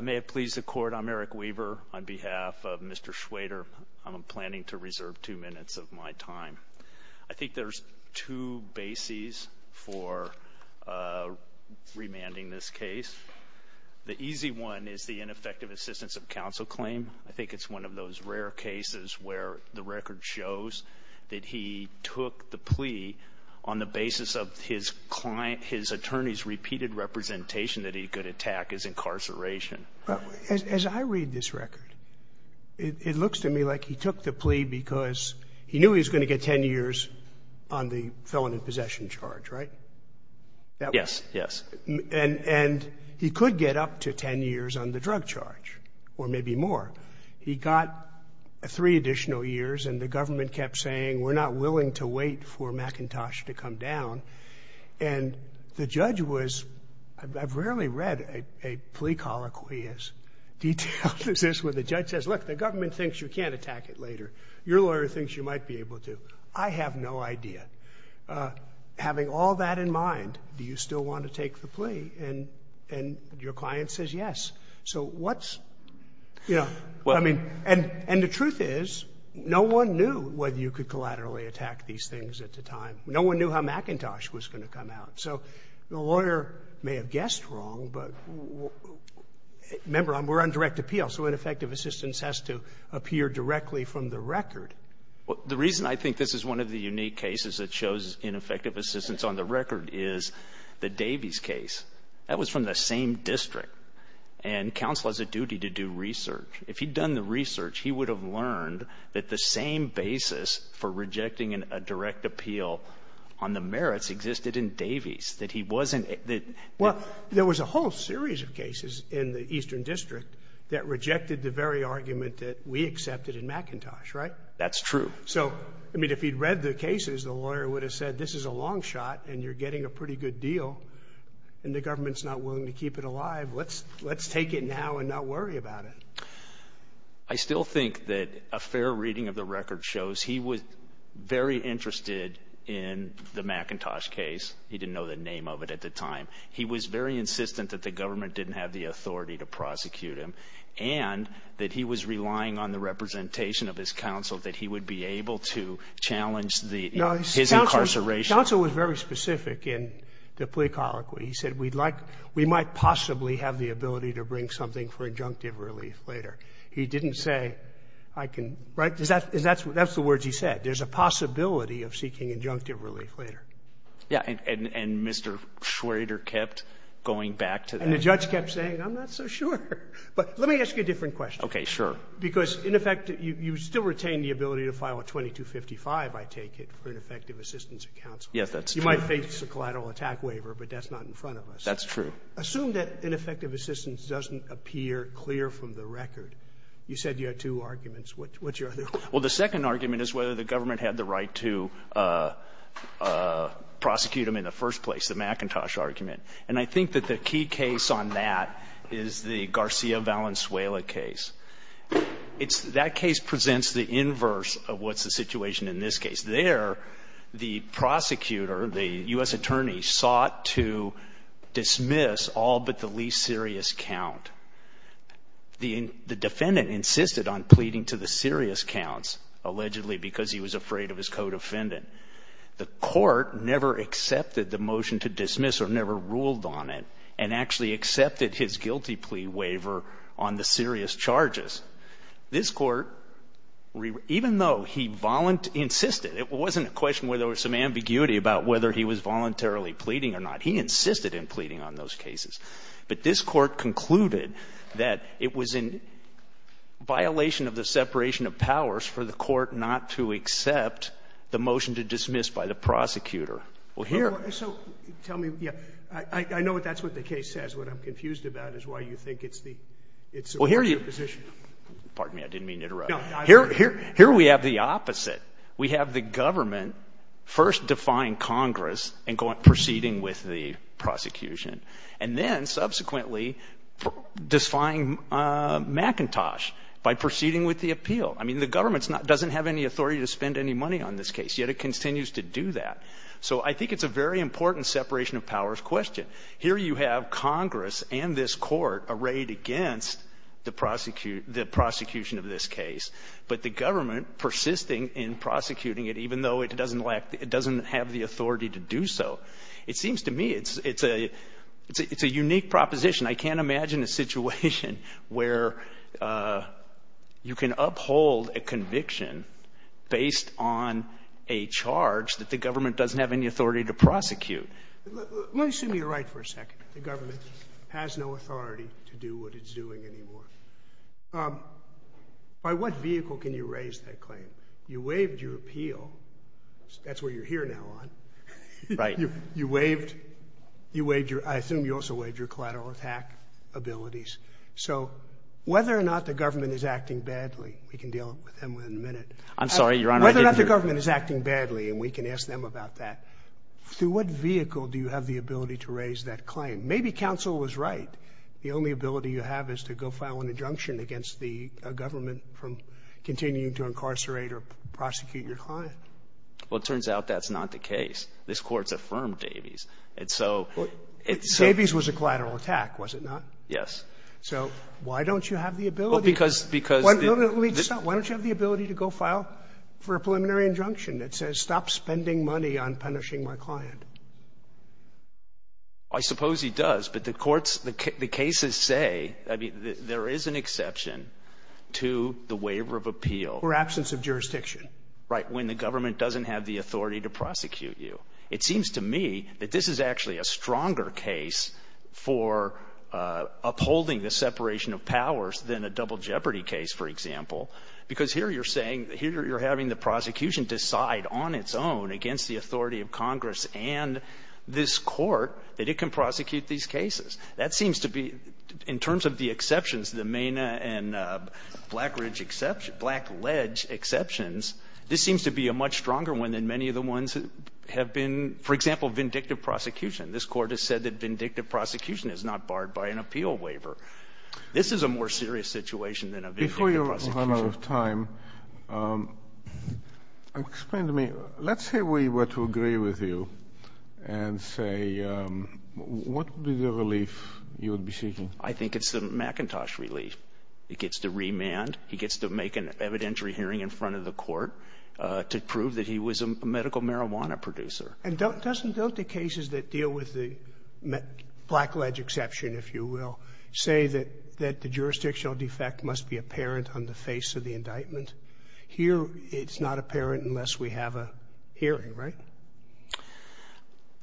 May it please the court, I'm Eric Weaver on behalf of Mr. Schweder. I'm planning to reserve two minutes of my time. I think there's two bases for remanding this case. The easy one is the ineffective assistance of counsel claim. I think it's one of those rare cases where the record shows that he took the plea on the basis of his client, his attorney's repeated representation that he could attack his incarceration. As I read this record, it looks to me like he took the plea because he knew he was going to get ten years on the felon in possession charge, right? Yes, yes. And he could get up to ten years on the drug charge or maybe more. He got three additional years and the government kept saying we're not willing to wait for McIntosh to come down and the judge was, I've rarely read a plea colloquy as detailed as this where the judge says, look, the government thinks you can't attack it later. Your lawyer thinks you might be able to. I have no idea. Having all that in mind, do you still want to take the plea? And your client says yes. So what's, you know, I mean, and the truth is no one knew whether you could collaterally attack these things at the time. No one knew how McIntosh was going to come out. So the lawyer may have guessed wrong, but remember, we're on direct appeal, so ineffective assistance has to appear directly from the record. Well, the reason I think this is one of the unique cases that shows ineffective assistance on the record is the Davies case. That was from the same district and counsel has a duty to do research. If he'd done the research, he would have learned that the same basis for rejecting a direct appeal on the merits existed in Davies, that he wasn't. Well, there was a whole series of cases in the eastern district that rejected the very argument that we accepted in McIntosh, right? That's true. So, I mean, if he'd read the cases, the lawyer would have said, this is a long shot and you're getting a pretty good deal and the government's not willing to keep it alive. Let's let's take it now and not worry about it. I still think that a fair reading of the record shows he was very interested in the McIntosh case. He didn't know the name of it at the time. He was very insistent that the government didn't have the authority to prosecute him and that he was relying on the representation of his counsel that he would be able to challenge the his incarceration. Also was very specific in the plea colloquy. He said we'd like we might possibly have the possibility of seeking injunctive relief later. He didn't say, I can, right? That's the words he said. There's a possibility of seeking injunctive relief later. And Mr. Schrader kept going back to that. And the judge kept saying, I'm not so sure. But let me ask you a different question. Okay. Sure. Because, in effect, you still retain the ability to file a 2255, I take it, for ineffective assistance of counsel. Yes, that's true. You might face a collateral attack waiver, but that's not in front of us. That's true. Assume that ineffective assistance doesn't appear clear from the record. You said you had two arguments. What's your other one? Well, the second argument is whether the government had the right to prosecute him in the first place, the McIntosh argument. And I think that the key case on that is the Garcia Valenzuela case. It's that case presents the inverse of what's the situation in this case. There, the prosecutor, the U.S. attorney, sought to dismiss all but the least serious count. The defendant insisted on pleading to the serious counts, allegedly because he was afraid of his co-defendant. The court never accepted the motion to dismiss or never ruled on it, and actually accepted his guilty plea waiver on the serious charges. This Court, even though he insisted, it wasn't a question where there was some ambiguity about whether he was voluntarily pleading or not. He insisted in pleading on those cases. But this Court concluded that it was in violation of the separation of powers for the Court not to accept the motion to dismiss by the prosecutor. Pardon me, I didn't mean to interrupt. Here we have the opposite. We have the government first defying Congress and proceeding with the prosecution, and then subsequently defying McIntosh by proceeding with the appeal. I mean, the government doesn't have any authority to spend any money on this case, yet it continues to do that. So I think it's a very important separation of powers question. Here you have Congress and this Court arrayed against the prosecution of this case, but the government persisting in prosecuting it, even though it doesn't lack the – it doesn't have the authority to do so. It seems to me it's a unique proposition. I can't imagine a situation where you can uphold a conviction based on a charge that the government doesn't have any authority to prosecute. Let me assume you're right for a second. The government has no authority to do what it's doing anymore. By what vehicle can you raise that claim? You waived your appeal. That's what you're here now on. Right. You waived – you waived your – I assume you also waived your collateral attack abilities. So whether or not the government is acting badly – we can deal with them within a minute. I'm sorry, Your Honor, I didn't hear. Whether or not the government is acting badly, and we can ask them about that, through what vehicle do you have the ability to raise that claim? Maybe counsel was right. The only ability you have is to go file an injunction against the government from continuing to incarcerate or prosecute your client. Well, it turns out that's not the case. This Court's affirmed Davies. And so – Davies was a collateral attack, was it not? Yes. So why don't you have the ability – Well, because – because – No, no, no, let me just stop. Why don't you have the ability to go file for a preliminary injunction that says, stop spending money on punishing my client? I suppose he does, but the courts – the cases say – I mean, there is an exception to the waiver of appeal – For absence of jurisdiction. Right, when the government doesn't have the authority to prosecute you. It seems to me that this is actually a stronger case for upholding the separation of powers than a double jeopardy case, for example. Because here you're saying – here you're having the prosecution decide on its own against the authority of Congress and this Court that it can prosecute these cases. That seems to be – in terms of the exceptions, the MENA and Black Ridge exception – Black Ledge exceptions, this seems to be a much stronger one than many of the ones that have been – for example, vindictive prosecution. This Court has said that vindictive prosecution is not barred by an appeal waiver. This is a more serious situation than a vindictive prosecution. Before you run out of time, explain to me – let's say we were to agree with you and say – what would be the relief you would be seeking? I think it's the McIntosh relief. He gets to remand. He gets to make an evidentiary hearing in front of the court to prove that he was a medical marijuana producer. And don't the cases that deal with the Black Ledge exception, if you will, say that the jurisdictional defect must be apparent on the face of the indictment? Here it's not apparent unless we have a hearing, right?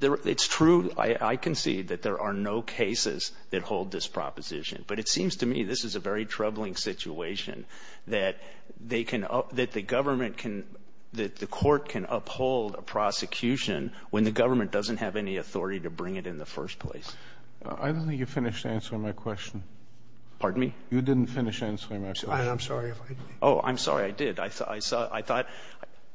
It's true, I concede, that there are no cases that hold this proposition. But it seems to me this is a very troubling situation that they can – that the government can – that the court can uphold a prosecution when the government doesn't have any authority to bring it in the first place. I don't think you finished answering my question. Pardon me? You didn't finish answering my question. I'm sorry if I did. Oh, I'm sorry I did. I thought –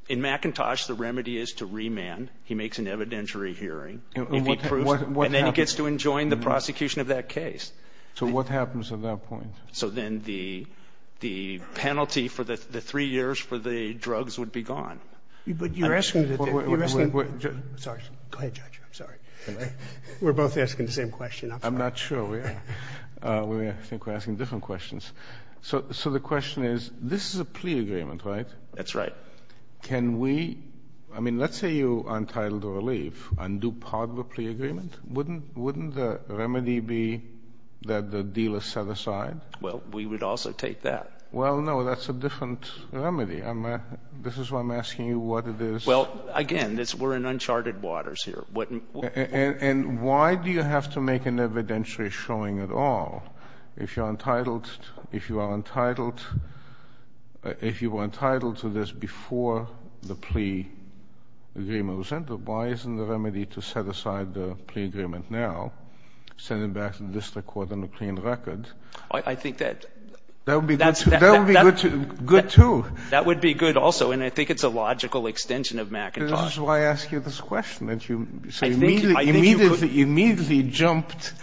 in McIntosh, the remedy is to remand. He makes an evidentiary hearing and then he gets to enjoin the prosecution of that case. So what happens at that point? So then the penalty for the three years for the drugs would be gone. But you're asking – Sorry. Go ahead, Judge. I'm sorry. We're both asking the same question. I'm not sure. I think we're asking different questions. So the question is, this is a plea agreement, right? That's right. Can we – I mean, let's say you are entitled to a relief and do part of a plea agreement. Wouldn't the remedy be that the dealer set aside? Well, we would also take that. Well, no, that's a different remedy. This is why I'm asking you what it is. Well, again, we're in uncharted waters here. And why do you have to make an evidentiary showing at all? If you are entitled – if you are entitled – if you were entitled to this before the plea agreement was entered, why isn't the remedy to set aside the plea agreement now, send it back to the district court on a clean record? I think that – That would be good, too. That would be good, also. And I think it's a logical extension of McIntosh. This is why I ask you this question, that you immediately jumped –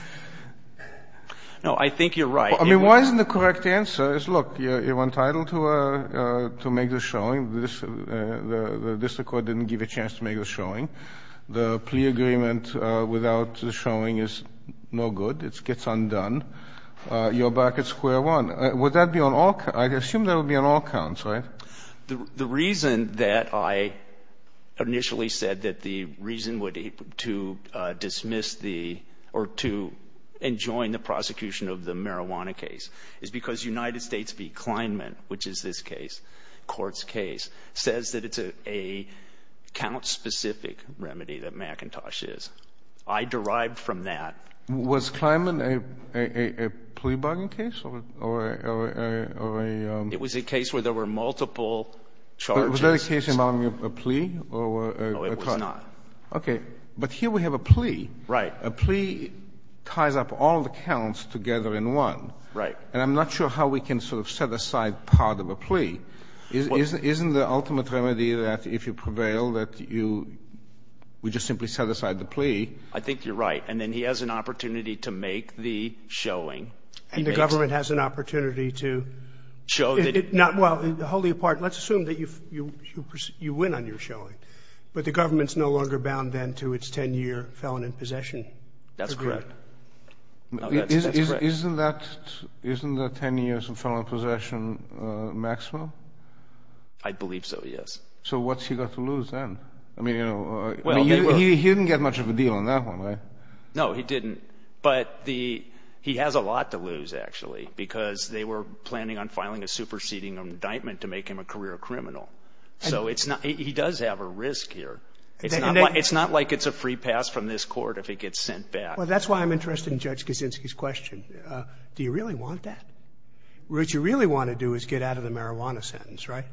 No, I think you're right. I mean, why isn't the correct answer is, look, you're entitled to make the showing. The district court didn't give you a chance to make the showing. The plea agreement without the showing is no good. It gets undone. You're back at square one. Would that be on all – I assume that would be on all counts, right? The reason that I initially said that the reason to dismiss the – or to enjoin the prosecution of the marijuana case is because United States v. Kleinman, which is this case, court's case, says that it's a count-specific remedy that McIntosh is. I derived from that – Was Kleinman a plea bargain case or a – It was a case where there were multiple charges. Was that a case involving a plea or a – No, it was not. Okay. But here we have a plea. Right. A plea ties up all the counts together in one. Right. And I'm not sure how we can sort of set aside part of a plea. Isn't the ultimate remedy that if you prevail that you – we just simply set aside the plea? I think you're right. And then he has an opportunity to make the showing. And the government has an opportunity to – Well, to hold you apart, let's assume that you win on your showing. But the government's no longer bound then to its 10-year felon in possession. That's correct. That's correct. Isn't that 10 years of felon in possession maximum? I believe so, yes. So what's he got to lose then? I mean, he didn't get much of a deal on that one, right? No, he didn't. But the – he has a lot to lose, actually, because they were planning on filing a superseding indictment to make him a career criminal. So it's not – he does have a risk here. It's not like it's a free pass from this court if he gets sent back. Well, that's why I'm interested in Judge Kaczynski's question. Do you really want that? What you really want to do is get out of the marijuana sentence, right?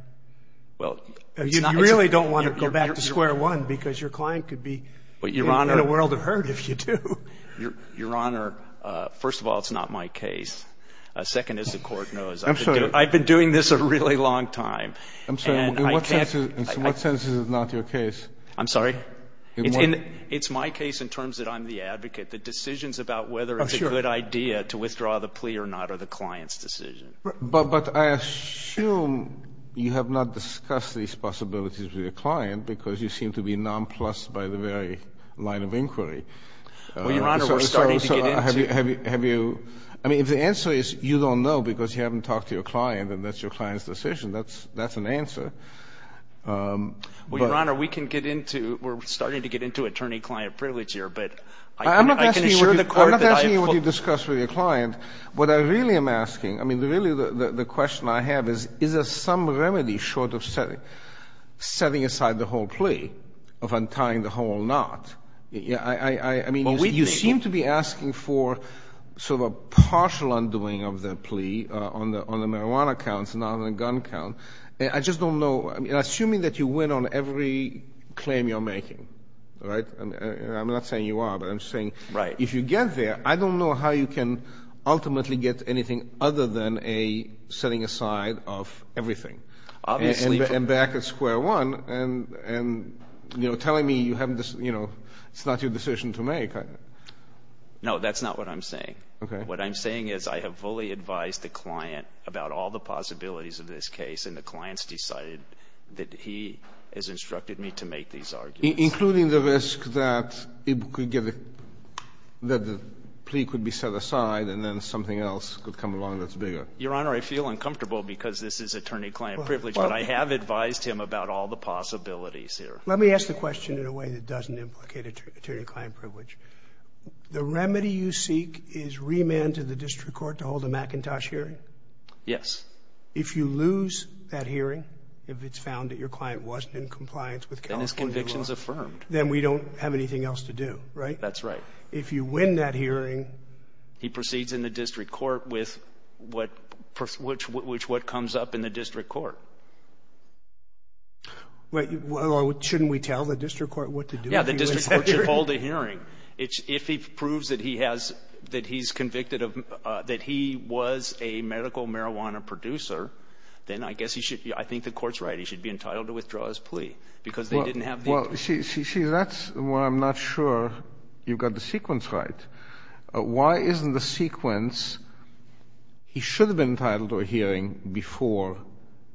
Well, it's not – You really don't want to go back to square one because your client could be in a world of hurt if you do. Your Honor, first of all, it's not my case. Second is the court knows. I'm sorry. I've been doing this a really long time. I'm sorry. In what sense is it not your case? I'm sorry? In what – It's my case in terms that I'm the advocate. The decisions about whether it's a good idea to withdraw the plea or not are the client's decision. But I assume you have not discussed these possibilities with your client because you seem to be nonplussed by the very line of inquiry. Well, Your Honor, we're starting to get into – Have you – I mean, if the answer is you don't know because you haven't talked to your client and that's your client's decision, that's an answer. Well, Your Honor, we can get into – we're starting to get into attorney-client privilege here. But I can assure the court that I – I'm not asking you what you discussed with your client. What I really am asking – I mean, really, the question I have is, is there some remedy short of setting aside the whole plea of untying the whole knot? I mean, you seem to be asking for sort of a partial undoing of the plea on the marijuana counts, not on the gun count. I just don't know – I mean, assuming that you win on every claim you're making, right? I'm not saying you are, but I'm saying if you get there, I don't know how you can ultimately get anything other than a setting aside of everything. Obviously – I'm back at square one and, you know, telling me you haven't – it's not your decision to make. No, that's not what I'm saying. What I'm saying is I have fully advised the client about all the possibilities of this case and the client's decided that he has instructed me to make these arguments. Including the risk that it could get – that the plea could be set aside and then something else could come along that's bigger. Your Honor, I feel uncomfortable because this is attorney-client privilege, but I have advised him about all the possibilities here. Let me ask the question in a way that doesn't implicate attorney-client privilege. The remedy you seek is remand to the district court to hold a McIntosh hearing? Yes. If you lose that hearing, if it's found that your client wasn't in compliance with California law – Then his conviction's affirmed. Then we don't have anything else to do, right? That's right. If you win that hearing – He proceeds in the district court with what comes up in the district court. Well, shouldn't we tell the district court what to do if he wins that hearing? Yeah, the district court should hold a hearing. If he proves that he has – that he's convicted of – that he was a medical marijuana producer, then I guess he should – I think the court's right. He should be entitled to withdraw his plea because they didn't have the – Well, see, that's where I'm not sure you've got the sequence right. Why isn't the sequence – he should have been entitled to a hearing before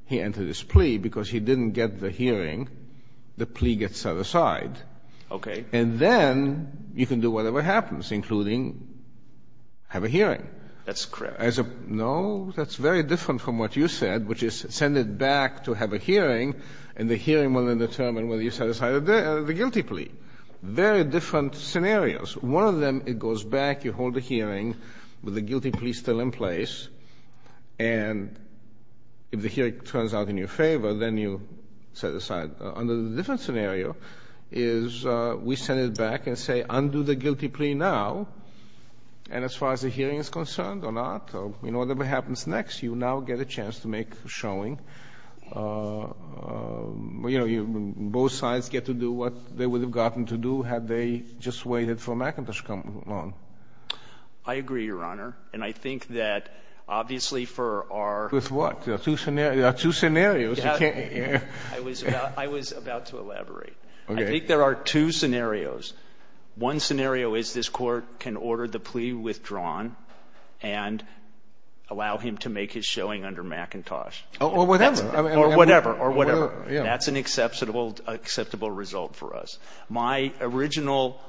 he entered his plea because he didn't get the hearing. The plea gets set aside. Okay. And then you can do whatever happens, including have a hearing. That's correct. As a – no, that's very different from what you said, which is send it back to have a hearing, and the hearing will then determine whether you set aside the guilty plea. Very different scenarios. One of them, it goes back, you hold the hearing with the guilty plea still in place, and if the hearing turns out in your favor, then you set it aside. Under the different scenario is we send it back and say, undo the guilty plea now, and as far as the hearing is concerned or not, or whatever happens next, you now get a chance to make a showing. You know, both sides get to do what they would have gotten to do had they just waited for Macintosh to come along. I agree, Your Honor. And I think that obviously for our – With what? There are two scenarios. You can't – I was about to elaborate. Okay. I think there are two scenarios. One scenario is this Court can order the plea withdrawn and allow him to make his showing under Macintosh. Or whatever. Or whatever. Or whatever. Yeah. That's an acceptable result for us. My original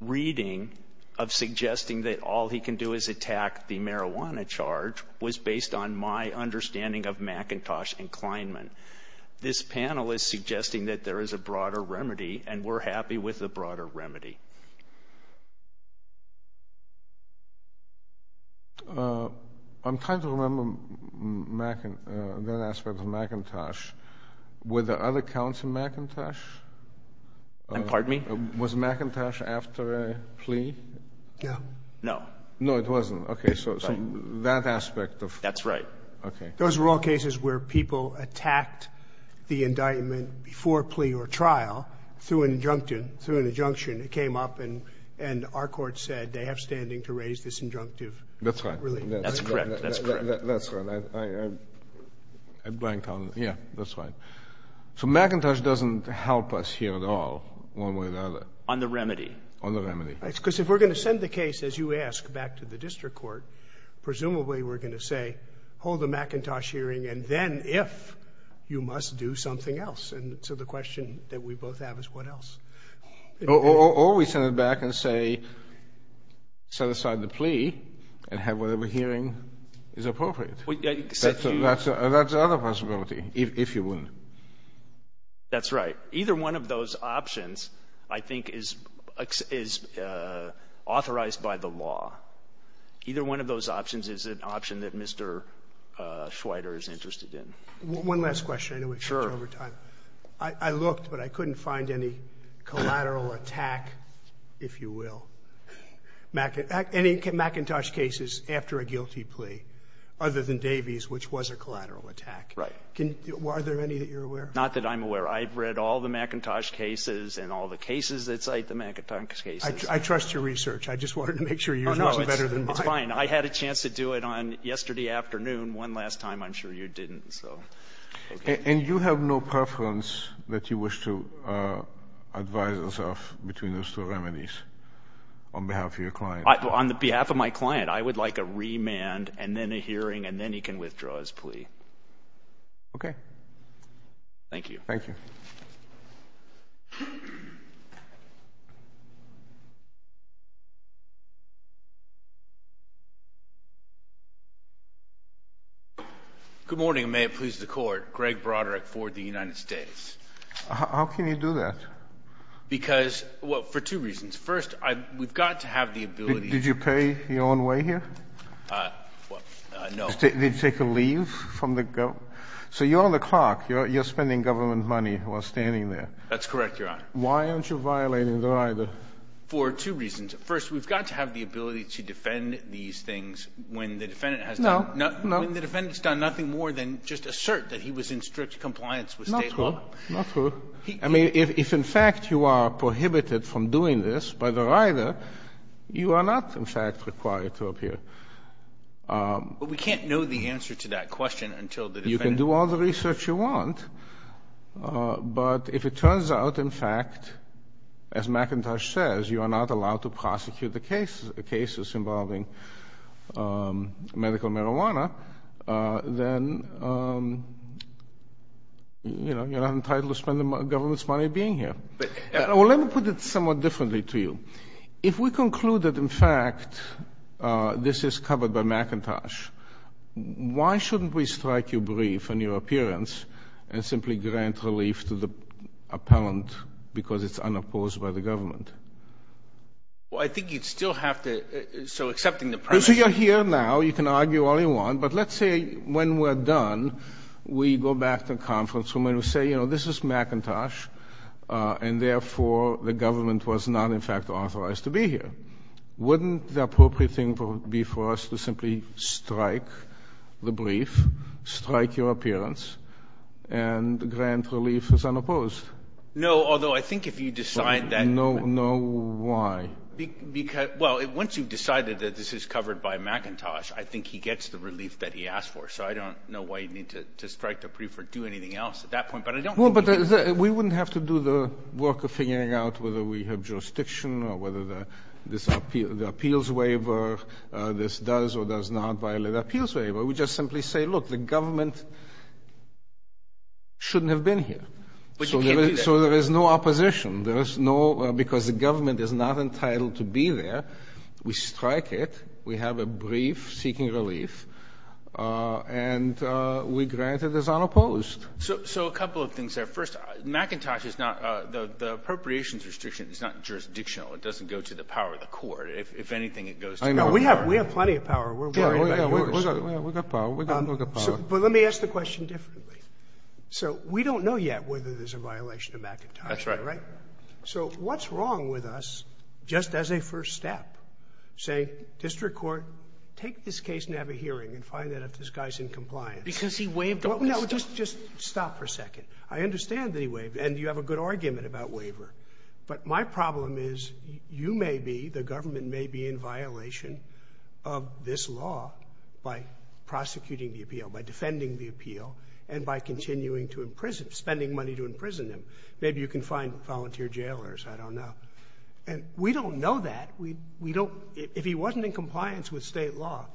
reading of suggesting that all he can do is attack the marijuana charge was based on my understanding of Macintosh and Kleinman. This panel is suggesting that there is a broader remedy, and we're happy with the broader remedy. I'm trying to remember that aspect of Macintosh. Were there other counts in Macintosh? Pardon me? Was Macintosh after a plea? No. No. No, it wasn't. Okay. So that aspect of – That's right. Okay. Those were all cases where people attacked the indictment before plea or trial through an injunction. It came up, and our court said they have standing to raise this injunctive. That's right. That's correct. That's correct. That's right. I blanked on it. Yeah. That's right. So Macintosh doesn't help us here at all, one way or the other. On the remedy. On the remedy. Because if we're going to send the case, as you ask, back to the district court, presumably we're going to say, hold the Macintosh hearing, and then, if, you must do something else. And so the question that we both have is, what else? Or we send it back and say, set aside the plea and have whatever hearing is appropriate. That's another possibility, if you will. That's right. Either one of those options, I think, is authorized by the law. Either one of those options is an option that Mr. Schweider is interested in. One last question. Sure. I looked, but I couldn't find any collateral attack, if you will, any Macintosh cases after a guilty plea, other than Davies, which was a collateral attack. Right. Are there any that you're aware of? Not that I'm aware of. I've read all the Macintosh cases and all the cases that cite the Macintosh cases. I trust your research. I just wanted to make sure yours wasn't better than mine. Oh, no. It's fine. I had a chance to do it on, yesterday afternoon, one last time. I'm sure you didn't, so. Okay. And you have no preference that you wish to advise yourself between those two remedies on behalf of your client? On behalf of my client, I would like a remand and then a hearing, and then he can withdraw his plea. Thank you. Thank you. Good morning, and may it please the Court. Greg Broderick for the United States. How can you do that? Because, well, for two reasons. First, we've got to have the ability. Did you pay your own way here? No. Did you take a leave from the government? So you're on the clock. You're spending government money while standing there. That's correct, Your Honor. Why aren't you violating the rider? For two reasons. First, we've got to have the ability to defend these things when the defendant has done nothing more than just assert that he was in strict compliance with state law. Not true. Not true. I mean, if, in fact, you are prohibited from doing this by the rider, you are not, in fact, required to appear. But we can't know the answer to that question until the defendant— You can do all the research you want, but if it turns out, in fact, as McIntosh says, you are not allowed to prosecute the cases involving medical marijuana, then, you know, you're not entitled to spend the government's money being here. Well, let me put it somewhat differently to you. If we conclude that, in fact, this is covered by McIntosh, why shouldn't we strike you brief on your appearance and simply grant relief to the appellant because it's unopposed by the government? Well, I think you'd still have to—so accepting the premise— So you're here now. You can argue all you want, but let's say when we're done, we go back to the conference room and we say, you know, this is McIntosh, and therefore the government was not, in fact, authorized to be here. Wouldn't the appropriate thing be for us to simply strike the brief, strike your appearance, and grant relief as unopposed? No, although I think if you decide that— No, why? Because—well, once you've decided that this is covered by McIntosh, I think he gets the relief that he asked for, so I don't know why you need to strike the brief or do anything else at that point, but I don't think you need to— Well, but we wouldn't have to do the work of figuring out whether we have jurisdiction or whether the appeals waiver, this does or does not violate appeals waiver. We just simply say, look, the government shouldn't have been here. But you can't do that. So there is no opposition. Because the government is not entitled to be there, we strike it, we have a brief seeking relief, and we grant it as unopposed. So a couple of things there. First, McIntosh is not—the appropriations restriction is not jurisdictional. It doesn't go to the power of the court. If anything, it goes to— I know. We have plenty of power. We're worried about yours. Oh, yeah. We've got power. We've got power. But let me ask the question differently. So we don't know yet whether there's a violation of McIntosh, right? That's right. So what's wrong with us, just as a first step, saying, District Court, take this case and have a hearing and find out if this guy's in compliance? Because he waived the waiver. No. Just stop for a second. I understand that he waived. And you have a good argument about waiver. But my problem is, you may be, the government may be in violation of this law by prosecuting the appeal, by defending the appeal, and by continuing to imprison, spending money to imprison him. Maybe you can find volunteer jailers, I don't know. And we don't know that. We don't. If he wasn't in compliance with state law,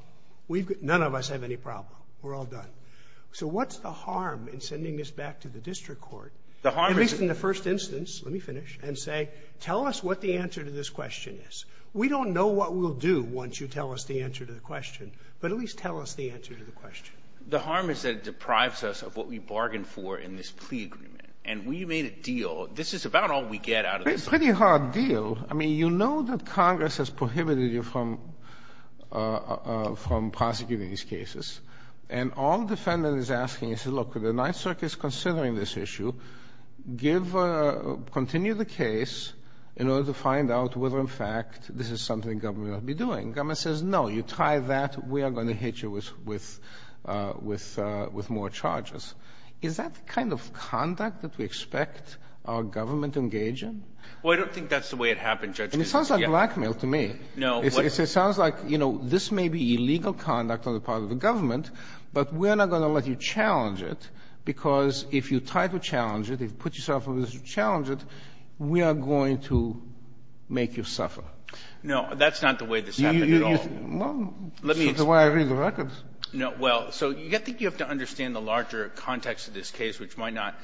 none of us have any problem. We're all done. So what's the harm in sending this back to the District Court, at least in the first instance? Let me finish. And say, tell us what the answer to this question is. We don't know what we'll do once you tell us the answer to the question. But at least tell us the answer to the question. The harm is that it deprives us of what we bargained for in this plea agreement. And we made a deal. This is about all we get out of this. It's a pretty hard deal. I mean, you know that Congress has prohibited you from prosecuting these cases. And all the defendant is asking is, look, the Ninth Circuit is considering this issue. Give, continue the case in order to find out whether, in fact, this is something government ought to be doing. Government says, no, you try that, we are going to hit you with more charges. Is that the kind of conduct that we expect our government to engage in? Well, I don't think that's the way it happened, Judge. And it sounds like blackmail to me. No. It sounds like, you know, this may be illegal conduct on the part of the government, but we're not going to let you challenge it, because if you try to challenge it, if you put yourself in a position to challenge it, we are going to make you suffer. No, that's not the way this happened at all. Well, that's not the way I read the records. No. Well, so I think you have to understand the larger context of this case, which might not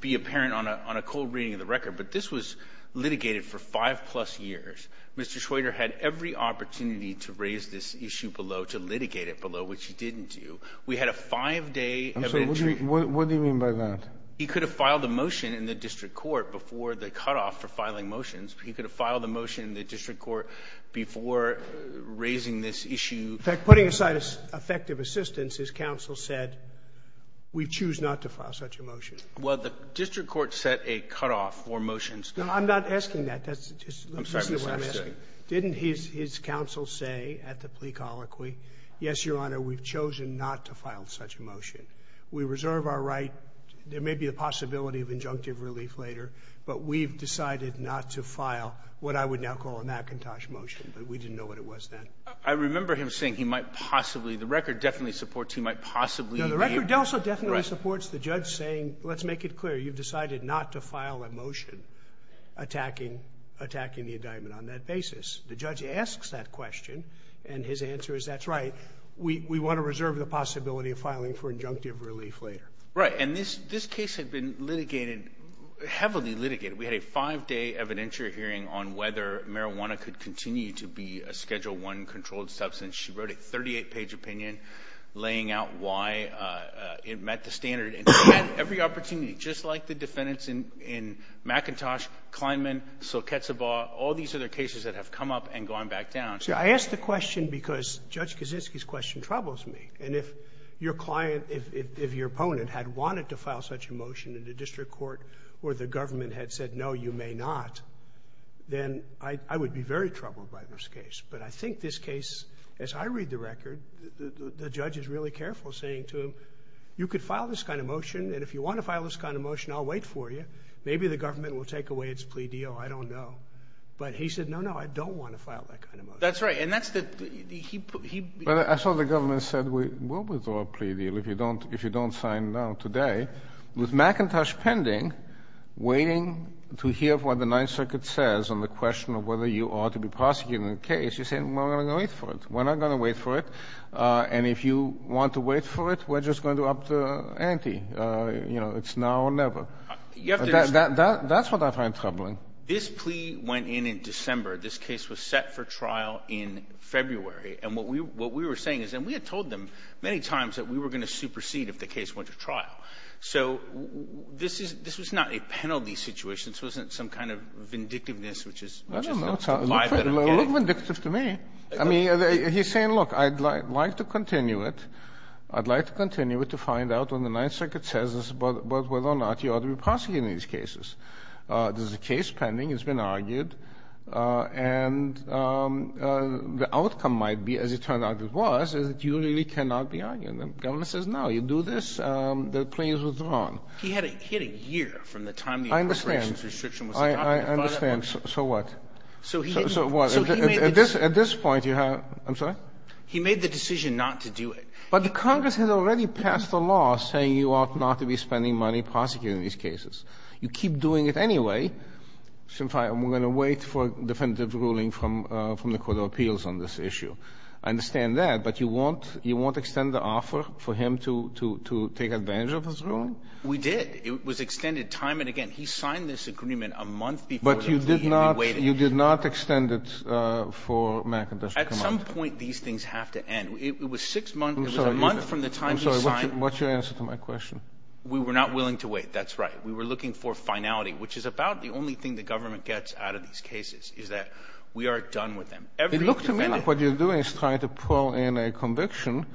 be apparent on a cold reading of the record. But this was litigated for five-plus years. Mr. Schroeder had every opportunity to raise this issue below, to litigate it below, which he didn't do. We had a five-day event. I'm sorry. What do you mean by that? He could have filed a motion in the district court before the cutoff for filing motions. He could have filed a motion in the district court before raising this issue. In fact, putting aside effective assistance, his counsel said, we choose not to file such a motion. Well, the district court set a cutoff for motions. No, I'm not asking that. That's just the way I'm asking. I'm sorry, Mr. Schroeder. Didn't his counsel say at the plea colloquy, yes, Your Honor, we've chosen not to file such a motion. We reserve our right. There may be a possibility of injunctive relief later, but we've decided not to file what I would now call a McIntosh motion, but we didn't know what it was then. I remember him saying he might possibly — the record definitely supports he might possibly — No, the record also definitely supports the judge saying, let's make it clear, you've decided not to file a motion attacking the indictment on that basis. The judge asks that question, and his answer is, that's right, we want to reserve the possibility of filing for injunctive relief later. Right, and this case had been litigated, heavily litigated. We had a five-day evidentiary hearing on whether marijuana could continue to be a Schedule 1 controlled substance. She wrote a 38-page opinion laying out why it met the standard, and she had every opportunity, just like the defendants in McIntosh, Kleinman, Silketzabaw, all these other cases that have come up and gone back down. I ask the question because Judge Kaczynski's question troubles me, and if your client, if your opponent had wanted to file such a motion in the district court where the government had said, no, you may not, then I would be very troubled by this case, but I think this case, I read the record, the judge is really careful, saying to him, you could file this kind of motion, and if you want to file this kind of motion, I'll wait for you. Maybe the government will take away its plea deal, I don't know. But he said, no, no, I don't want to file that kind of motion. That's right, and that's the, he put, he, Well, I saw the government said, we will withdraw a plea deal if you don't, if you don't sign now, today. With McIntosh pending, waiting to hear what the Ninth Circuit says on the question of whether you ought to be prosecuting the case, you're saying, well, I'm going to wait for it, we're not going to wait for it, and if you want to wait for it, we're just going to up the ante, you know, it's now or never. That's what I find troubling. This plea went in in December, this case was set for trial in February, and what we were saying is, and we had told them many times that we were going to supersede if the case went to trial, so this is, this was not a penalty situation, this wasn't some kind of vindictiveness, which is, which is, I don't know, it looked vindictive to me. I mean, he's saying, look, I'd like to continue it, I'd like to continue it to find out when the Ninth Circuit says this, but whether or not you ought to be prosecuting these cases. There's a case pending, it's been argued, and the outcome might be, as it turned out it was, is that you really cannot be arguing them. The government says, no, you do this, the plea is withdrawn. He had a, he had a year from the time the appropriations restriction was adopted. I understand, I understand, so what? So he didn't, so he made the decision. At this point, you have, I'm sorry? He made the decision not to do it. But the Congress has already passed a law saying you ought not to be spending money prosecuting these cases. You keep doing it anyway, and we're going to wait for a definitive ruling from, from the Court of Appeals on this issue. I understand that, but you won't, you won't extend the offer for him to, to, to take advantage of this ruling? We did. It was extended time and again. He signed this agreement a month before the plea, and we waited. But you did not, you did not extend it for McIntosh to come out? At some point, these things have to end. It was six months, it was a month from the time he signed. I'm sorry, what's your answer to my question? We were not willing to wait, that's right. We were looking for finality, which is about the only thing the government gets out of these cases, is that we are done with them. It looked to me like what you're doing is trying to pull in a conviction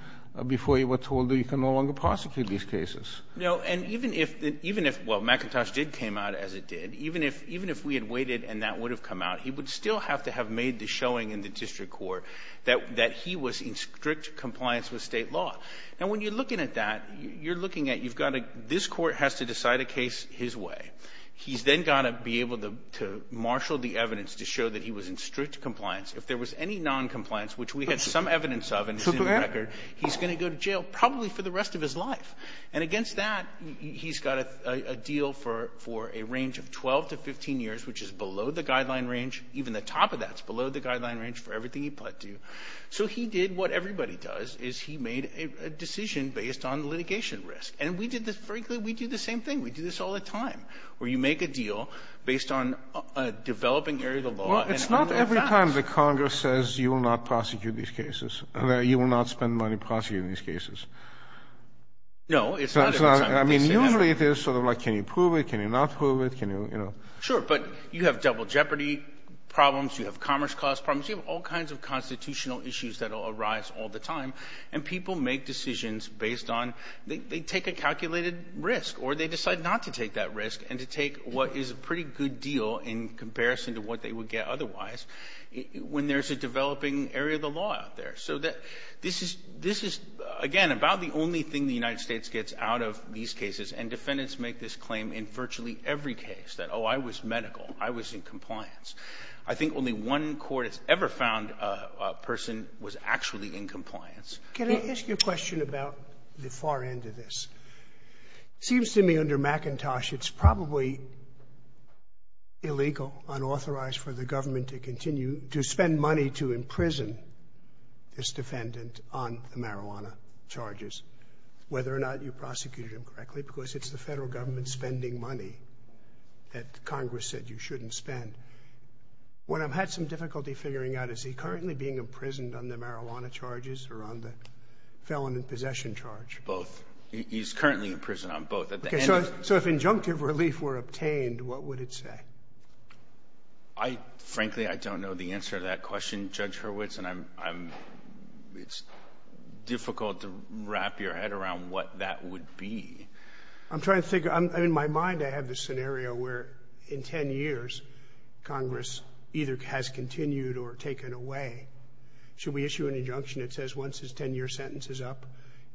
before you were told that you can no longer prosecute these cases. No, and even if, even if, well, McIntosh did came out as it did, even if, even if we had waited and that would have come out, he would still have to have made the showing in the district court that, that he was in strict compliance with State law. Now, when you're looking at that, you're looking at, you've got to, this court has to decide a case his way. He's then got to be able to, to marshal the evidence to show that he was in strict compliance. If there was any noncompliance, which we had some evidence of and it's in the record, he's going to go to jail probably for the rest of his life. And against that, he's got a, a deal for, for a range of 12 to 15 years, which is below the guideline range. Even the top of that's below the guideline range for everything he put to. So he did what everybody does is he made a decision based on litigation risk. And we did this, frankly, we do the same thing. We do this all the time where you make a deal based on a developing area of the law. It's not every time the Congress says you will not prosecute these cases and that you will not spend money prosecuting these cases. No, it's not. I mean, usually it is sort of like, can you prove it? Can you not prove it? Can you, you know, sure. But you have double jeopardy problems. You have commerce cost problems. You have all kinds of constitutional issues that will arise all the time. And people make decisions based on they take a calculated risk or they decide not to take that risk and to take what is a pretty good deal in comparison to what they would get otherwise when there's a developing area of the law out there. So that this is this is, again, about the only thing the United States gets out of these cases. And defendants make this claim in virtually every case that, oh, I was medical, I was in compliance. I think only one court has ever found a person was actually in compliance. Can I ask you a question about the far end of this? Seems to me under McIntosh, it's probably. Illegal, unauthorized for the government to continue to spend money to imprison this defendant on the marijuana charges, whether or not you prosecuted him correctly, because it's the federal government spending money that Congress said you shouldn't spend. When I've had some difficulty figuring out, is he currently being imprisoned on the marijuana charges or on the felon in possession charge? Both. He's currently in prison on both. So if injunctive relief were obtained, what would it say? I, frankly, I don't know the answer to that question, Judge Hurwitz, and I'm I'm it's difficult to wrap your head around what that would be. I'm trying to think in my mind. I have this scenario where in 10 years, Congress either has continued or taken away. Should we issue an injunction that says once his 10 year sentence is up,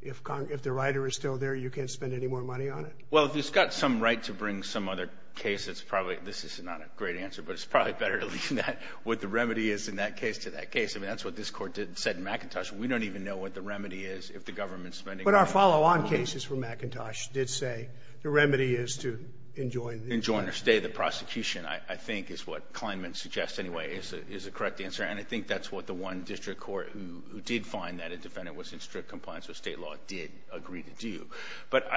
if if the writer is still there, you can't spend any more money on it? Well, if it's got some right to bring some other case, it's probably this is not a great answer, but it's probably better to leave that what the remedy is in that case to that case. I mean, that's what this court did said in McIntosh. We don't even know what the remedy is if the government spending. But our follow on cases for McIntosh did say the remedy is to enjoin, enjoin or stay the prosecution, I think, is what Kleinman suggests anyway is is a correct answer. And I think that's what the one district court who did find that a defendant was in strict compliance with state law did agree to do. But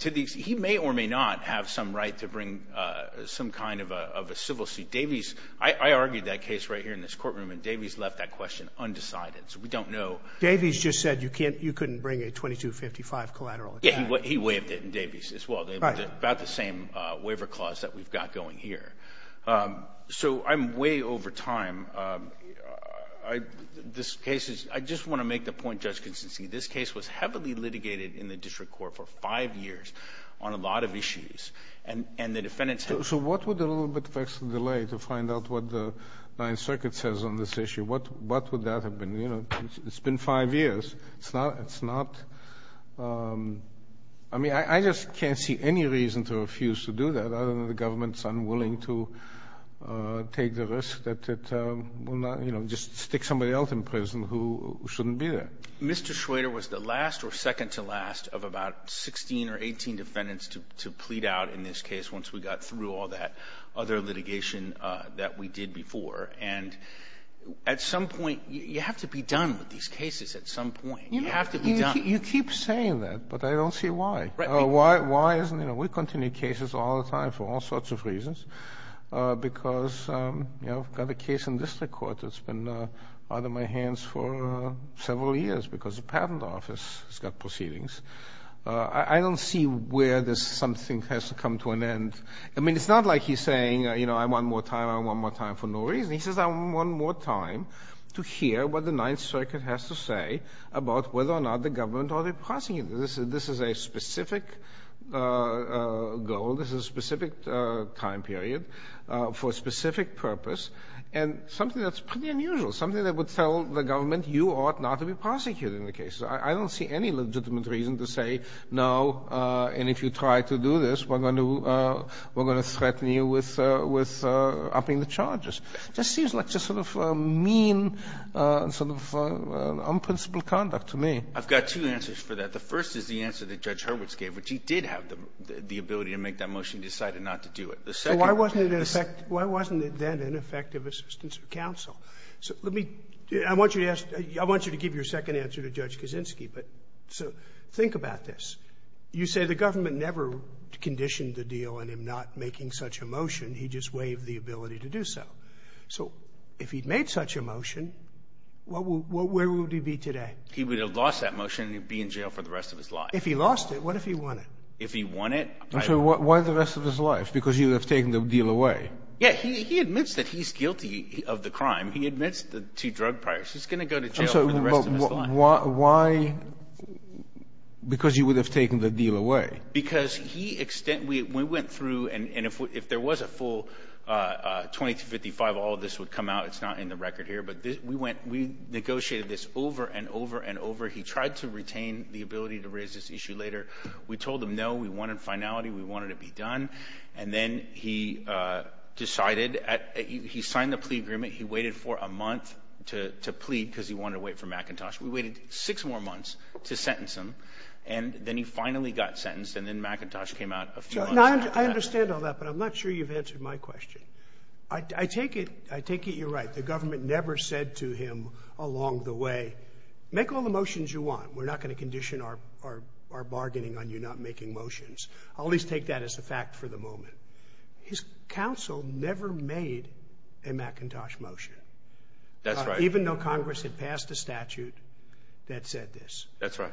to these, he may or may not have some right to bring some kind of a civil suit. Davies, I argued that case right here in this courtroom. And Davies left that question undecided. So we don't know. Davies just said you can't you couldn't bring a twenty two fifty five collateral. He waived it in Davies as well. About the same waiver clause that we've got going here. So I'm way over time. I this case is I just want to make the point. This case was heavily litigated in the district court for five years on a lot of issues. And and the defendants. So what would a little bit of extra delay to find out what the Ninth Circuit says on this issue? What what would that have been? You know, it's been five years. It's not it's not. I mean, I just can't see any reason to refuse to do that. I don't know the government's unwilling to take the risk that it will not just stick somebody else in prison who shouldn't be there. Mr. Schrader was the last or second to last of about 16 or 18 defendants to to plead out in this case once we got through all that other litigation that we did before. And at some point you have to be done with these cases at some point. You have to be done. You keep saying that, but I don't see why. Why? Why isn't it? We continue cases all the time for all sorts of reasons because, you know, I've got a case in the district court that's been out of my hands for several years because the patent office has got proceedings. I don't see where this something has to come to an end. I mean, it's not like he's saying, you know, I want more time. I want more time for no reason. He says, I want more time to hear what the Ninth Circuit has to say about whether or not the government are passing it. This is a specific goal. This is a specific time period for a specific purpose. And something that's pretty unusual, something that would tell the government you ought not to be prosecuted in the case. I don't see any legitimate reason to say no. And if you try to do this, we're going to we're going to threaten you with with upping the charges. Just seems like just sort of mean sort of unprincipled conduct to me. I've got two answers for that. The first is the answer that Judge Hurwitz gave, which he did have the ability to make that motion, decided not to do it. Why wasn't it an effect? Why wasn't it then an effective assistance of counsel? So let me I want you to ask. I want you to give your second answer to Judge Kaczynski. But so think about this. You say the government never conditioned the deal and him not making such a motion. He just waived the ability to do so. So if he'd made such a motion, what would where would he be today? He would have lost that motion and be in jail for the rest of his life. If he lost it. What if he won it? If he won it. So why the rest of his life? Because you have taken the deal away. Yeah, he admits that he's guilty of the crime. He admits to drug priors. He's going to go to jail for the rest of his life. Why? Because you would have taken the deal away. Because he extent we went through and if there was a full twenty to fifty five, all of this would come out. It's not in the record here. But we went we negotiated this over and over and over. He tried to retain the ability to raise this issue later. We told him, no, we wanted finality. We wanted to be done. And then he decided he signed the plea agreement. He waited for a month to plead because he wanted to wait for McIntosh. We waited six more months to sentence him. And then he finally got sentenced. And then McIntosh came out. I understand all that, but I'm not sure you've answered my question. I take it. I take it you're right. The government never said to him along the way, make all the motions you want. We're not going to condition our bargaining on you not making motions. I'll at least take that as a fact for the moment. His counsel never made a McIntosh motion. That's right. Even though Congress had passed a statute that said this. That's right.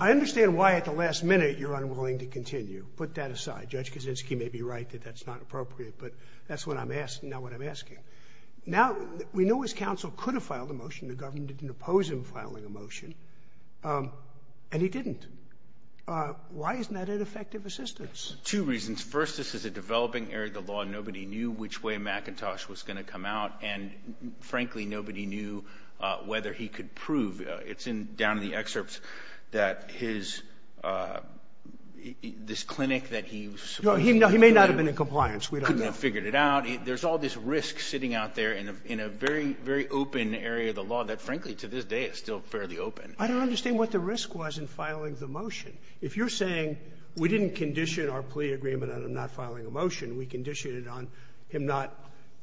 I understand why at the last minute you're unwilling to continue. Put that aside. Judge Kaczynski may be right that that's not appropriate. But that's what I'm asking, not what I'm asking. Now, we know his counsel could have filed a motion. The government didn't oppose him filing a motion. And he didn't. Why isn't that an effective assistance? Two reasons. First, this is a developing area of the law. Nobody knew which way McIntosh was going to come out. And frankly, nobody knew whether he could prove it's in down to the excerpts that his, this clinic that he, he may not have been in compliance. We couldn't have figured it out. There's all this risk sitting out there in a, in a very, very open area of the law that frankly, to this day is still fairly open. I don't understand what the risk was in filing the motion. If you're saying we didn't condition our plea agreement and I'm not filing a motion. We conditioned it on him, not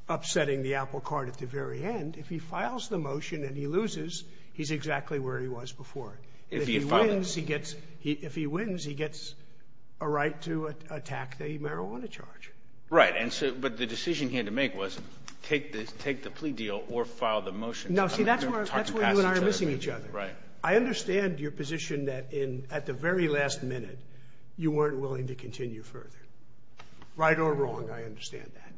upsetting the apple cart at the very end. If he files the motion and he loses, he's exactly where he was before. If he wins, he gets, if he wins, he gets a right to attack the marijuana charge. Right. And so, but the decision he had to make was take this, take the plea deal or file the motion. No, see, that's where, that's where you and I are missing each other. Right. I understand your position that in, at the very last minute, you weren't willing to continue further. Right or wrong. I understand that.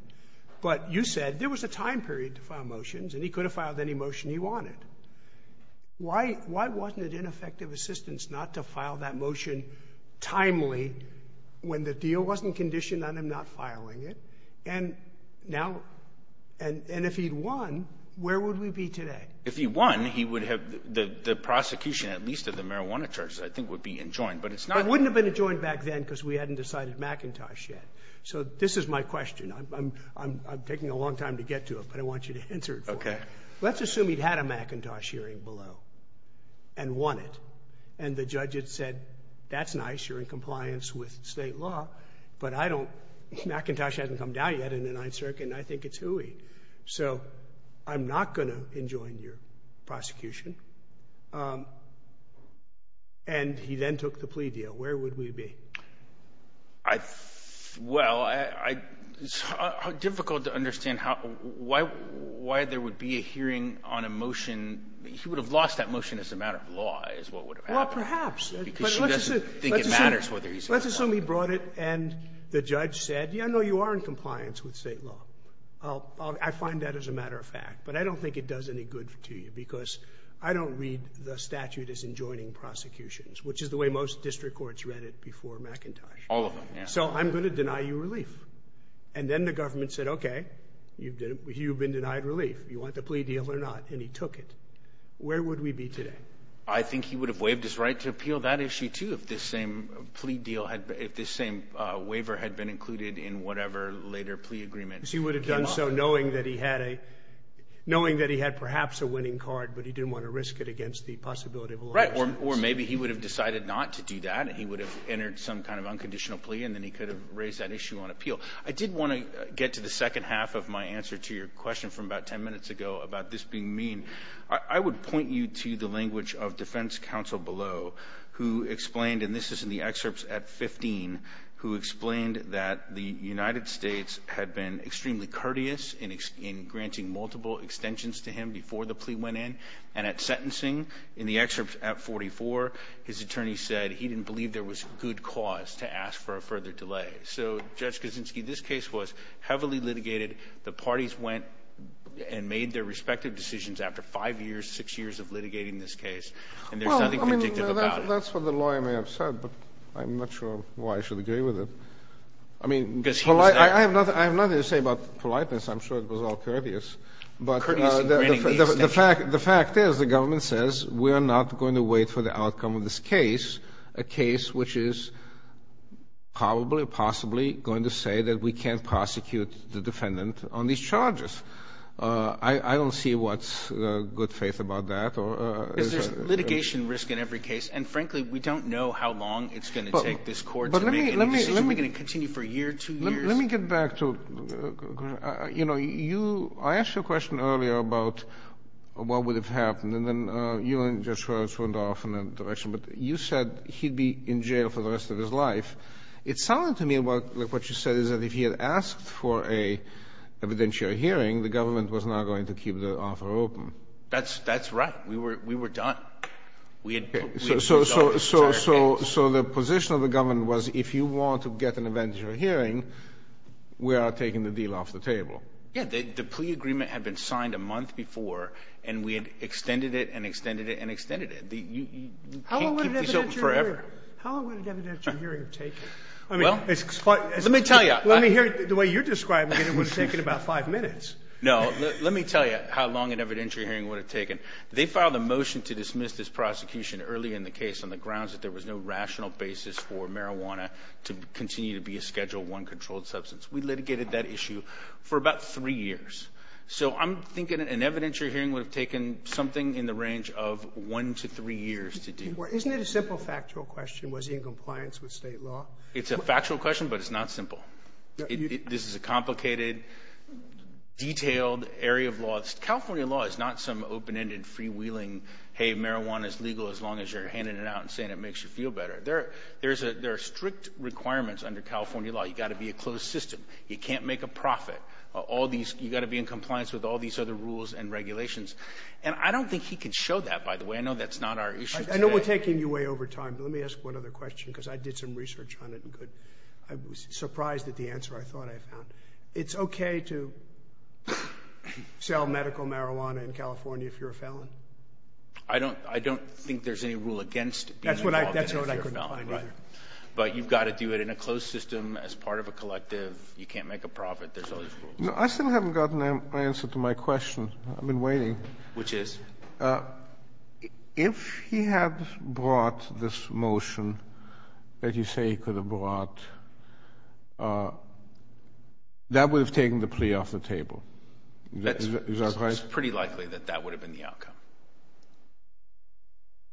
But you said there was a time period to file motions and he could have filed any motion he wanted. Why, why wasn't it ineffective assistance not to file that motion timely when the deal wasn't conditioned on him not filing it? And now, and, and if he'd won, where would we be today? If he won, he would have the, the prosecution, at least of the marijuana charges, I think would be enjoined, but it's not. It wouldn't have been enjoined back then because we hadn't decided McIntosh yet. So this is my question. I'm, I'm, I'm, I'm taking a long time to get to it, but I want you to answer it. Okay. Let's assume he'd had a McIntosh hearing below and won it. And the judge had said, that's nice. You're in compliance with state law, but I don't, McIntosh hasn't come down yet in the ninth circuit. And I think it's hooey. So I'm not going to enjoin your prosecution. And he then took the plea deal. Where would we be? I, well, I, it's difficult to understand how, why, why there would be a hearing on a motion, he would have lost that motion as a matter of law is what would have happened because she doesn't think it matters whether he's, let's assume he brought it and the judge said, yeah, no, you are in compliance with state law. I'll, I'll, I find that as a matter of fact, but I don't think it does any good to you because I don't read the statute as enjoining prosecutions, which is the way most district courts read it before McIntosh, so I'm going to deny you relief and then the government said, okay, you've been, you've been denied relief, you want the plea deal or not? And he took it. Where would we be today? I think he would have waived his right to appeal that issue too. If this same plea deal had, if this same waiver had been included in whatever later plea agreement, he would have done so knowing that he had a, knowing that he had perhaps a winning card, but he didn't want to risk it against the possibility of, or maybe he would have decided not to do that. And he would have entered some kind of unconditional plea. And then he could have raised that issue on appeal. I did want to get to the second half of my answer to your question from about 10 minutes ago about this being mean, I would point you to the language of defense counsel below who explained, and this is in the excerpts at 15, who explained that the United States had been extremely courteous in, in granting multiple extensions to him before the plea went in and at sentencing in the excerpts at 44, his attorney said he didn't believe there was good cause to ask for a further delay. So Judge Kaczynski, this case was heavily litigated. The parties went and made their respective decisions after five years, six years of litigating this case. And there's nothing predictive about it. That's what the lawyer may have said, but I'm not sure why I should agree with it. I mean, I have nothing to say about politeness. I'm sure it was all courteous, but the fact, the fact is the government says we're not going to wait for the outcome of this case, a case, which is probably possibly going to say that we can't prosecute the defendant on these charges. Uh, I, I don't see what's a good faith about that or, uh, litigation risk in every case. And frankly, we don't know how long it's going to take this court. But let me, let me, let me get back to, uh, you know, you, I asked you a question earlier about what would have happened. And then, uh, you and Judge Rhodes went off in that direction, but you said he'd be in jail for the rest of his life. It sounded to me like what you said is that if he had asked for a evidentiary hearing, the government was not going to keep the offer open. That's, that's right. We were, we were done. We had, so, so, so, so, so the position of the government was if you want to get an evidentiary hearing, we are taking the deal off the table. Yeah. The, the plea agreement had been signed a month before and we had extended it and extended it and extended it. The, you, you can't keep this open forever. How long would an evidentiary hearing have taken? I mean, it's quite, let me tell you, the way you're describing it, it would have taken about five minutes. No, let me tell you how long an evidentiary hearing would have taken. They filed a motion to dismiss this prosecution early in the case on the grounds that there was no rational basis for marijuana to continue to be a Schedule I controlled substance. We litigated that issue for about three years. So I'm thinking an evidentiary hearing would have taken something in the range of one to three years to do. Well, isn't it a simple factual question? Was he in compliance with state law? It's a factual question, but it's not simple. It, this is a complicated, detailed area of law. California law is not some open-ended freewheeling, hey, marijuana is legal as long as you're handing it out and saying it makes you feel better. There, there's a, there are strict requirements under California law. You've got to be a closed system. You can't make a profit. All these, you've got to be in compliance with all these other rules and regulations. And I don't think he can show that, by the way. I know that's not our issue. I know we're taking you way over time, but let me ask one other question because I did some research on it and could, I was surprised at It's okay to sell medical marijuana in California if you're a felon. I don't, I don't think there's any rule against being involved in a fear felony. Right. But you've got to do it in a closed system as part of a collective. You can't make a profit. There's all these rules. No, I still haven't gotten my answer to my question. I've been waiting. Which is? Uh, if he had brought this motion that you say he could have brought, uh, that would have taken the plea off the table. Is that right? It's pretty likely that that would have been the outcome.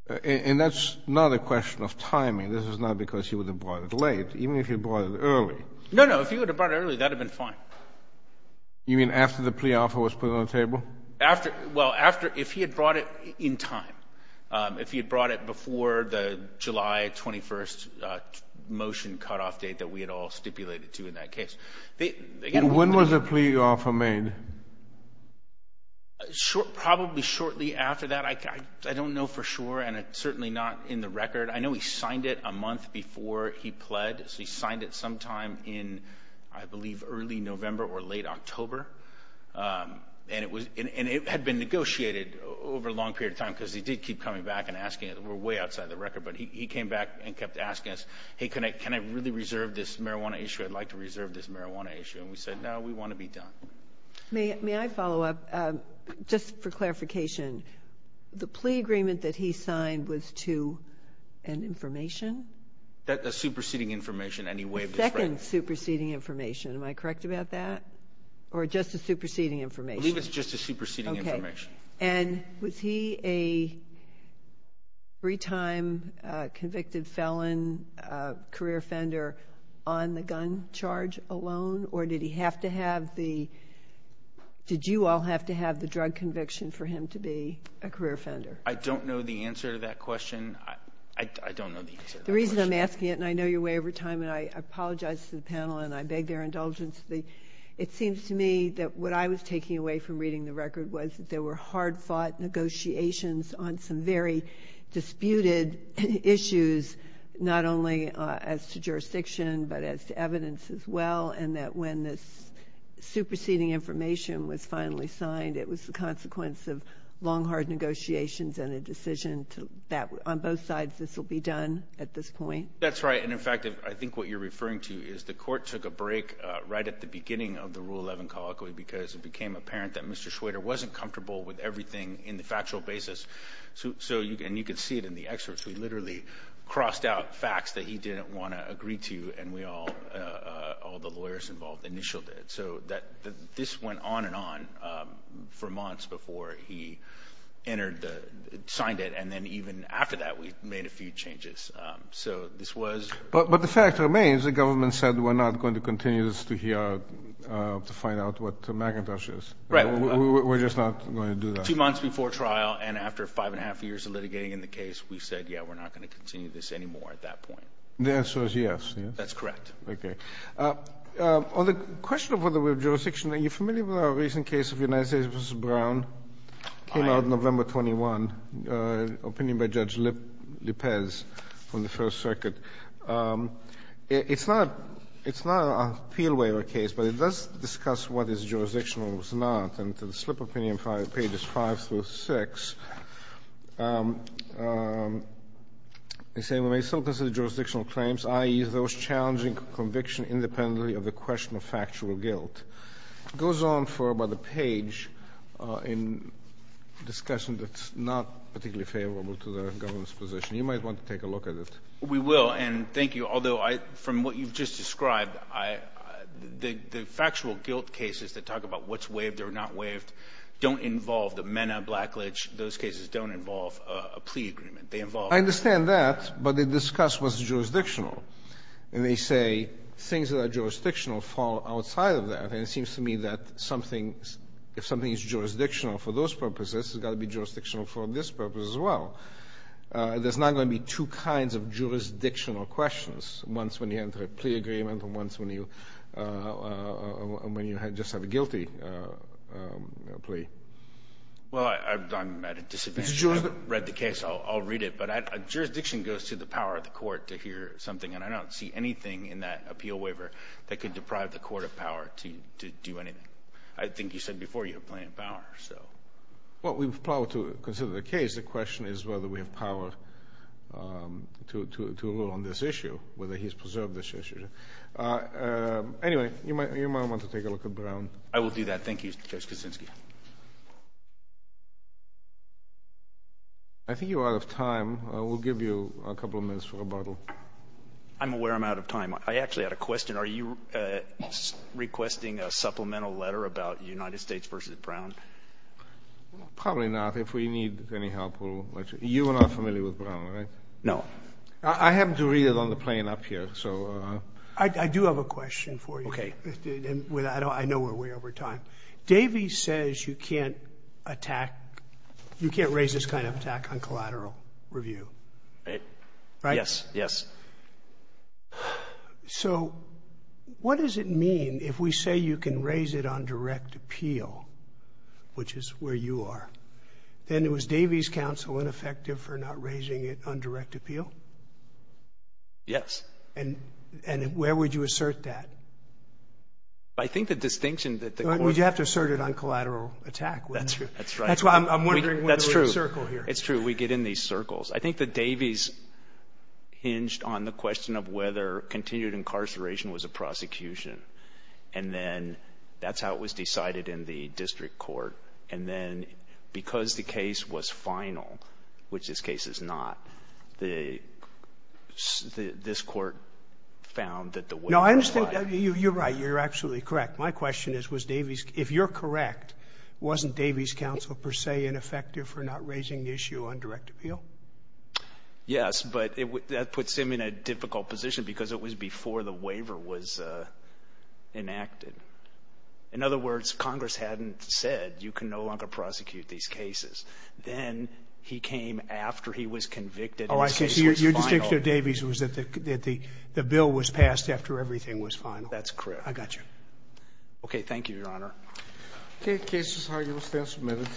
Uh, and that's not a question of timing. This is not because he would have brought it late. Even if he brought it early. No, no. If he would have brought it early, that'd have been fine. You mean after the plea offer was put on the table? After, well, after, if he had brought it in time, um, if he had brought it before the July 21st, uh, motion cutoff date that we had all stipulated to in that case. They, they get. When was the plea offer made? Uh, short, probably shortly after that. I, I don't know for sure. And it's certainly not in the record. I know he signed it a month before he pled. So he signed it sometime in, I believe, early November or late October. Um, and it was, and it had been negotiated over a long period of time because he did keep coming back and asking it, we're way outside the record, but he came back and kept asking us, Hey, can I, can I really reserve this marijuana issue? I'd like to reserve this marijuana issue. And we said, no, we want to be done. May I follow up? Um, just for clarification, the plea agreement that he signed was to an information that a superseding information, any way of superseding information, am I correct about that? Or just a superseding information? I believe it's just a superseding information. And was he a three time convicted felon, a career offender on the gun charge alone, or did he have to have the, did you all have to have the drug conviction for him to be a career offender? I don't know the answer to that question. I don't know the answer. The reason I'm asking it, and I know your way over time, and I apologize to the panel and I beg their indulgence. It seems to me that what I was taking away from reading the record was that there were hard fought negotiations on some very disputed issues, not only as to jurisdiction, but as to evidence as well. And that when this superseding information was finally signed, it was the consequence of long, hard negotiations and a decision that on both sides, this will be done at this point. That's right. And in fact, I think what you're referring to is the court took a break right at the beginning of the rule 11 colloquy, because it became apparent that Mr. Schwader wasn't comfortable with everything in the factual basis. So, so you can, you can see it in the excerpts. We literally crossed out facts that he didn't want to agree to. And we all, all the lawyers involved initialed it. So that this went on and on for months before he entered the, signed it. And then even after that, we made a few changes. So this was, but the fact remains, the government said, we're not going to continue this to hear, to find out what McIntosh is, we're just not going to do that two months before trial. And after five and a half years of litigating in the case, we said, yeah, we're not going to continue this anymore at that point. The answer is yes. That's correct. Okay. On the question of whether we have jurisdiction, are you familiar with our recent case of United States versus Brown came out November 21, opinion by judge Lippes on the first circuit. It's not, it's not an appeal waiver case, but it does discuss what is jurisdictional and what's not and to the slip opinion, five pages, five through six. They say, we may still consider jurisdictional claims. I use those challenging conviction independently of the question of factual guilt goes on for about a page in discussion. That's not particularly favorable to the government's position. You might want to take a look at it. We will. And thank you. Although I, from what you've just described, I, the, the factual guilt cases that talk about what's waived or not waived don't involve the men, a blackledge, those cases don't involve a plea agreement. They involve, I understand that, but they discuss what's jurisdictional and they say things that are jurisdictional fall outside of that. And it seems to me that something, if something is jurisdictional for those purposes, it's got to be jurisdictional for this purpose as well. Uh, there's not going to be two kinds of jurisdictional questions. Once when you enter a plea agreement and once when you, uh, uh, when you had just have a guilty, uh, um, plea. Well, I, I'm at a disadvantage, read the case. I'll, I'll read it. But I, a jurisdiction goes to the power of the court to hear something. And I don't see anything in that appeal waiver that could deprive the court of power to, to do anything. I think you said before you have plenty of power, so. Well, we've plowed to consider the case. The question is whether we have power, um, to, to, to rule on this issue, whether he's preserved this issue. Uh, um, anyway, you might, you might want to take a look at Brown. I will do that. Thank you, Judge Kuczynski. I think you're out of time. I will give you a couple of minutes for rebuttal. I'm aware I'm out of time. I actually had a question. Are you requesting a supplemental letter about United States versus Brown? Probably not. If we need any help, we'll let you. You are not familiar with Brown, right? No. I happen to read it on the plane up here. So, uh. I do have a question for you. Okay. With, I don't, I know we're way over time. Davey says you can't attack, you can't raise this kind of attack on collateral review. Right. Right. Yes. Yes. So what does it mean if we say you can raise it on direct appeal, which is where you are, then it was Davey's counsel ineffective for not raising it on direct appeal? Yes. And, and where would you assert that? I think the distinction that the court. Well, you'd have to assert it on collateral attack. That's true. That's why I'm wondering. That's true. Whether we're in a circle here. It's true. We get in these circles. I think that Davey's hinged on the question of whether continued incarceration was a prosecution. And then that's how it was decided in the district court. And then because the case was final, which this case is not, the, the, this court found that the way. No, I understand that you, you're right. You're absolutely correct. My question is, was Davey's, if you're correct, wasn't Davey's counsel per se ineffective for not raising the issue on direct appeal? Yes, but it would, that puts him in a difficult position because it was before the waiver was enacted. In other words, Congress hadn't said you can no longer prosecute these cases. Then he came after he was convicted. Oh, I see your, your distinction of Davey's was that the, that the, the bill was passed after everything was final. That's correct. I got you. Okay. Thank you, your honor. Okay. Case is argued. We'll stand for a minute.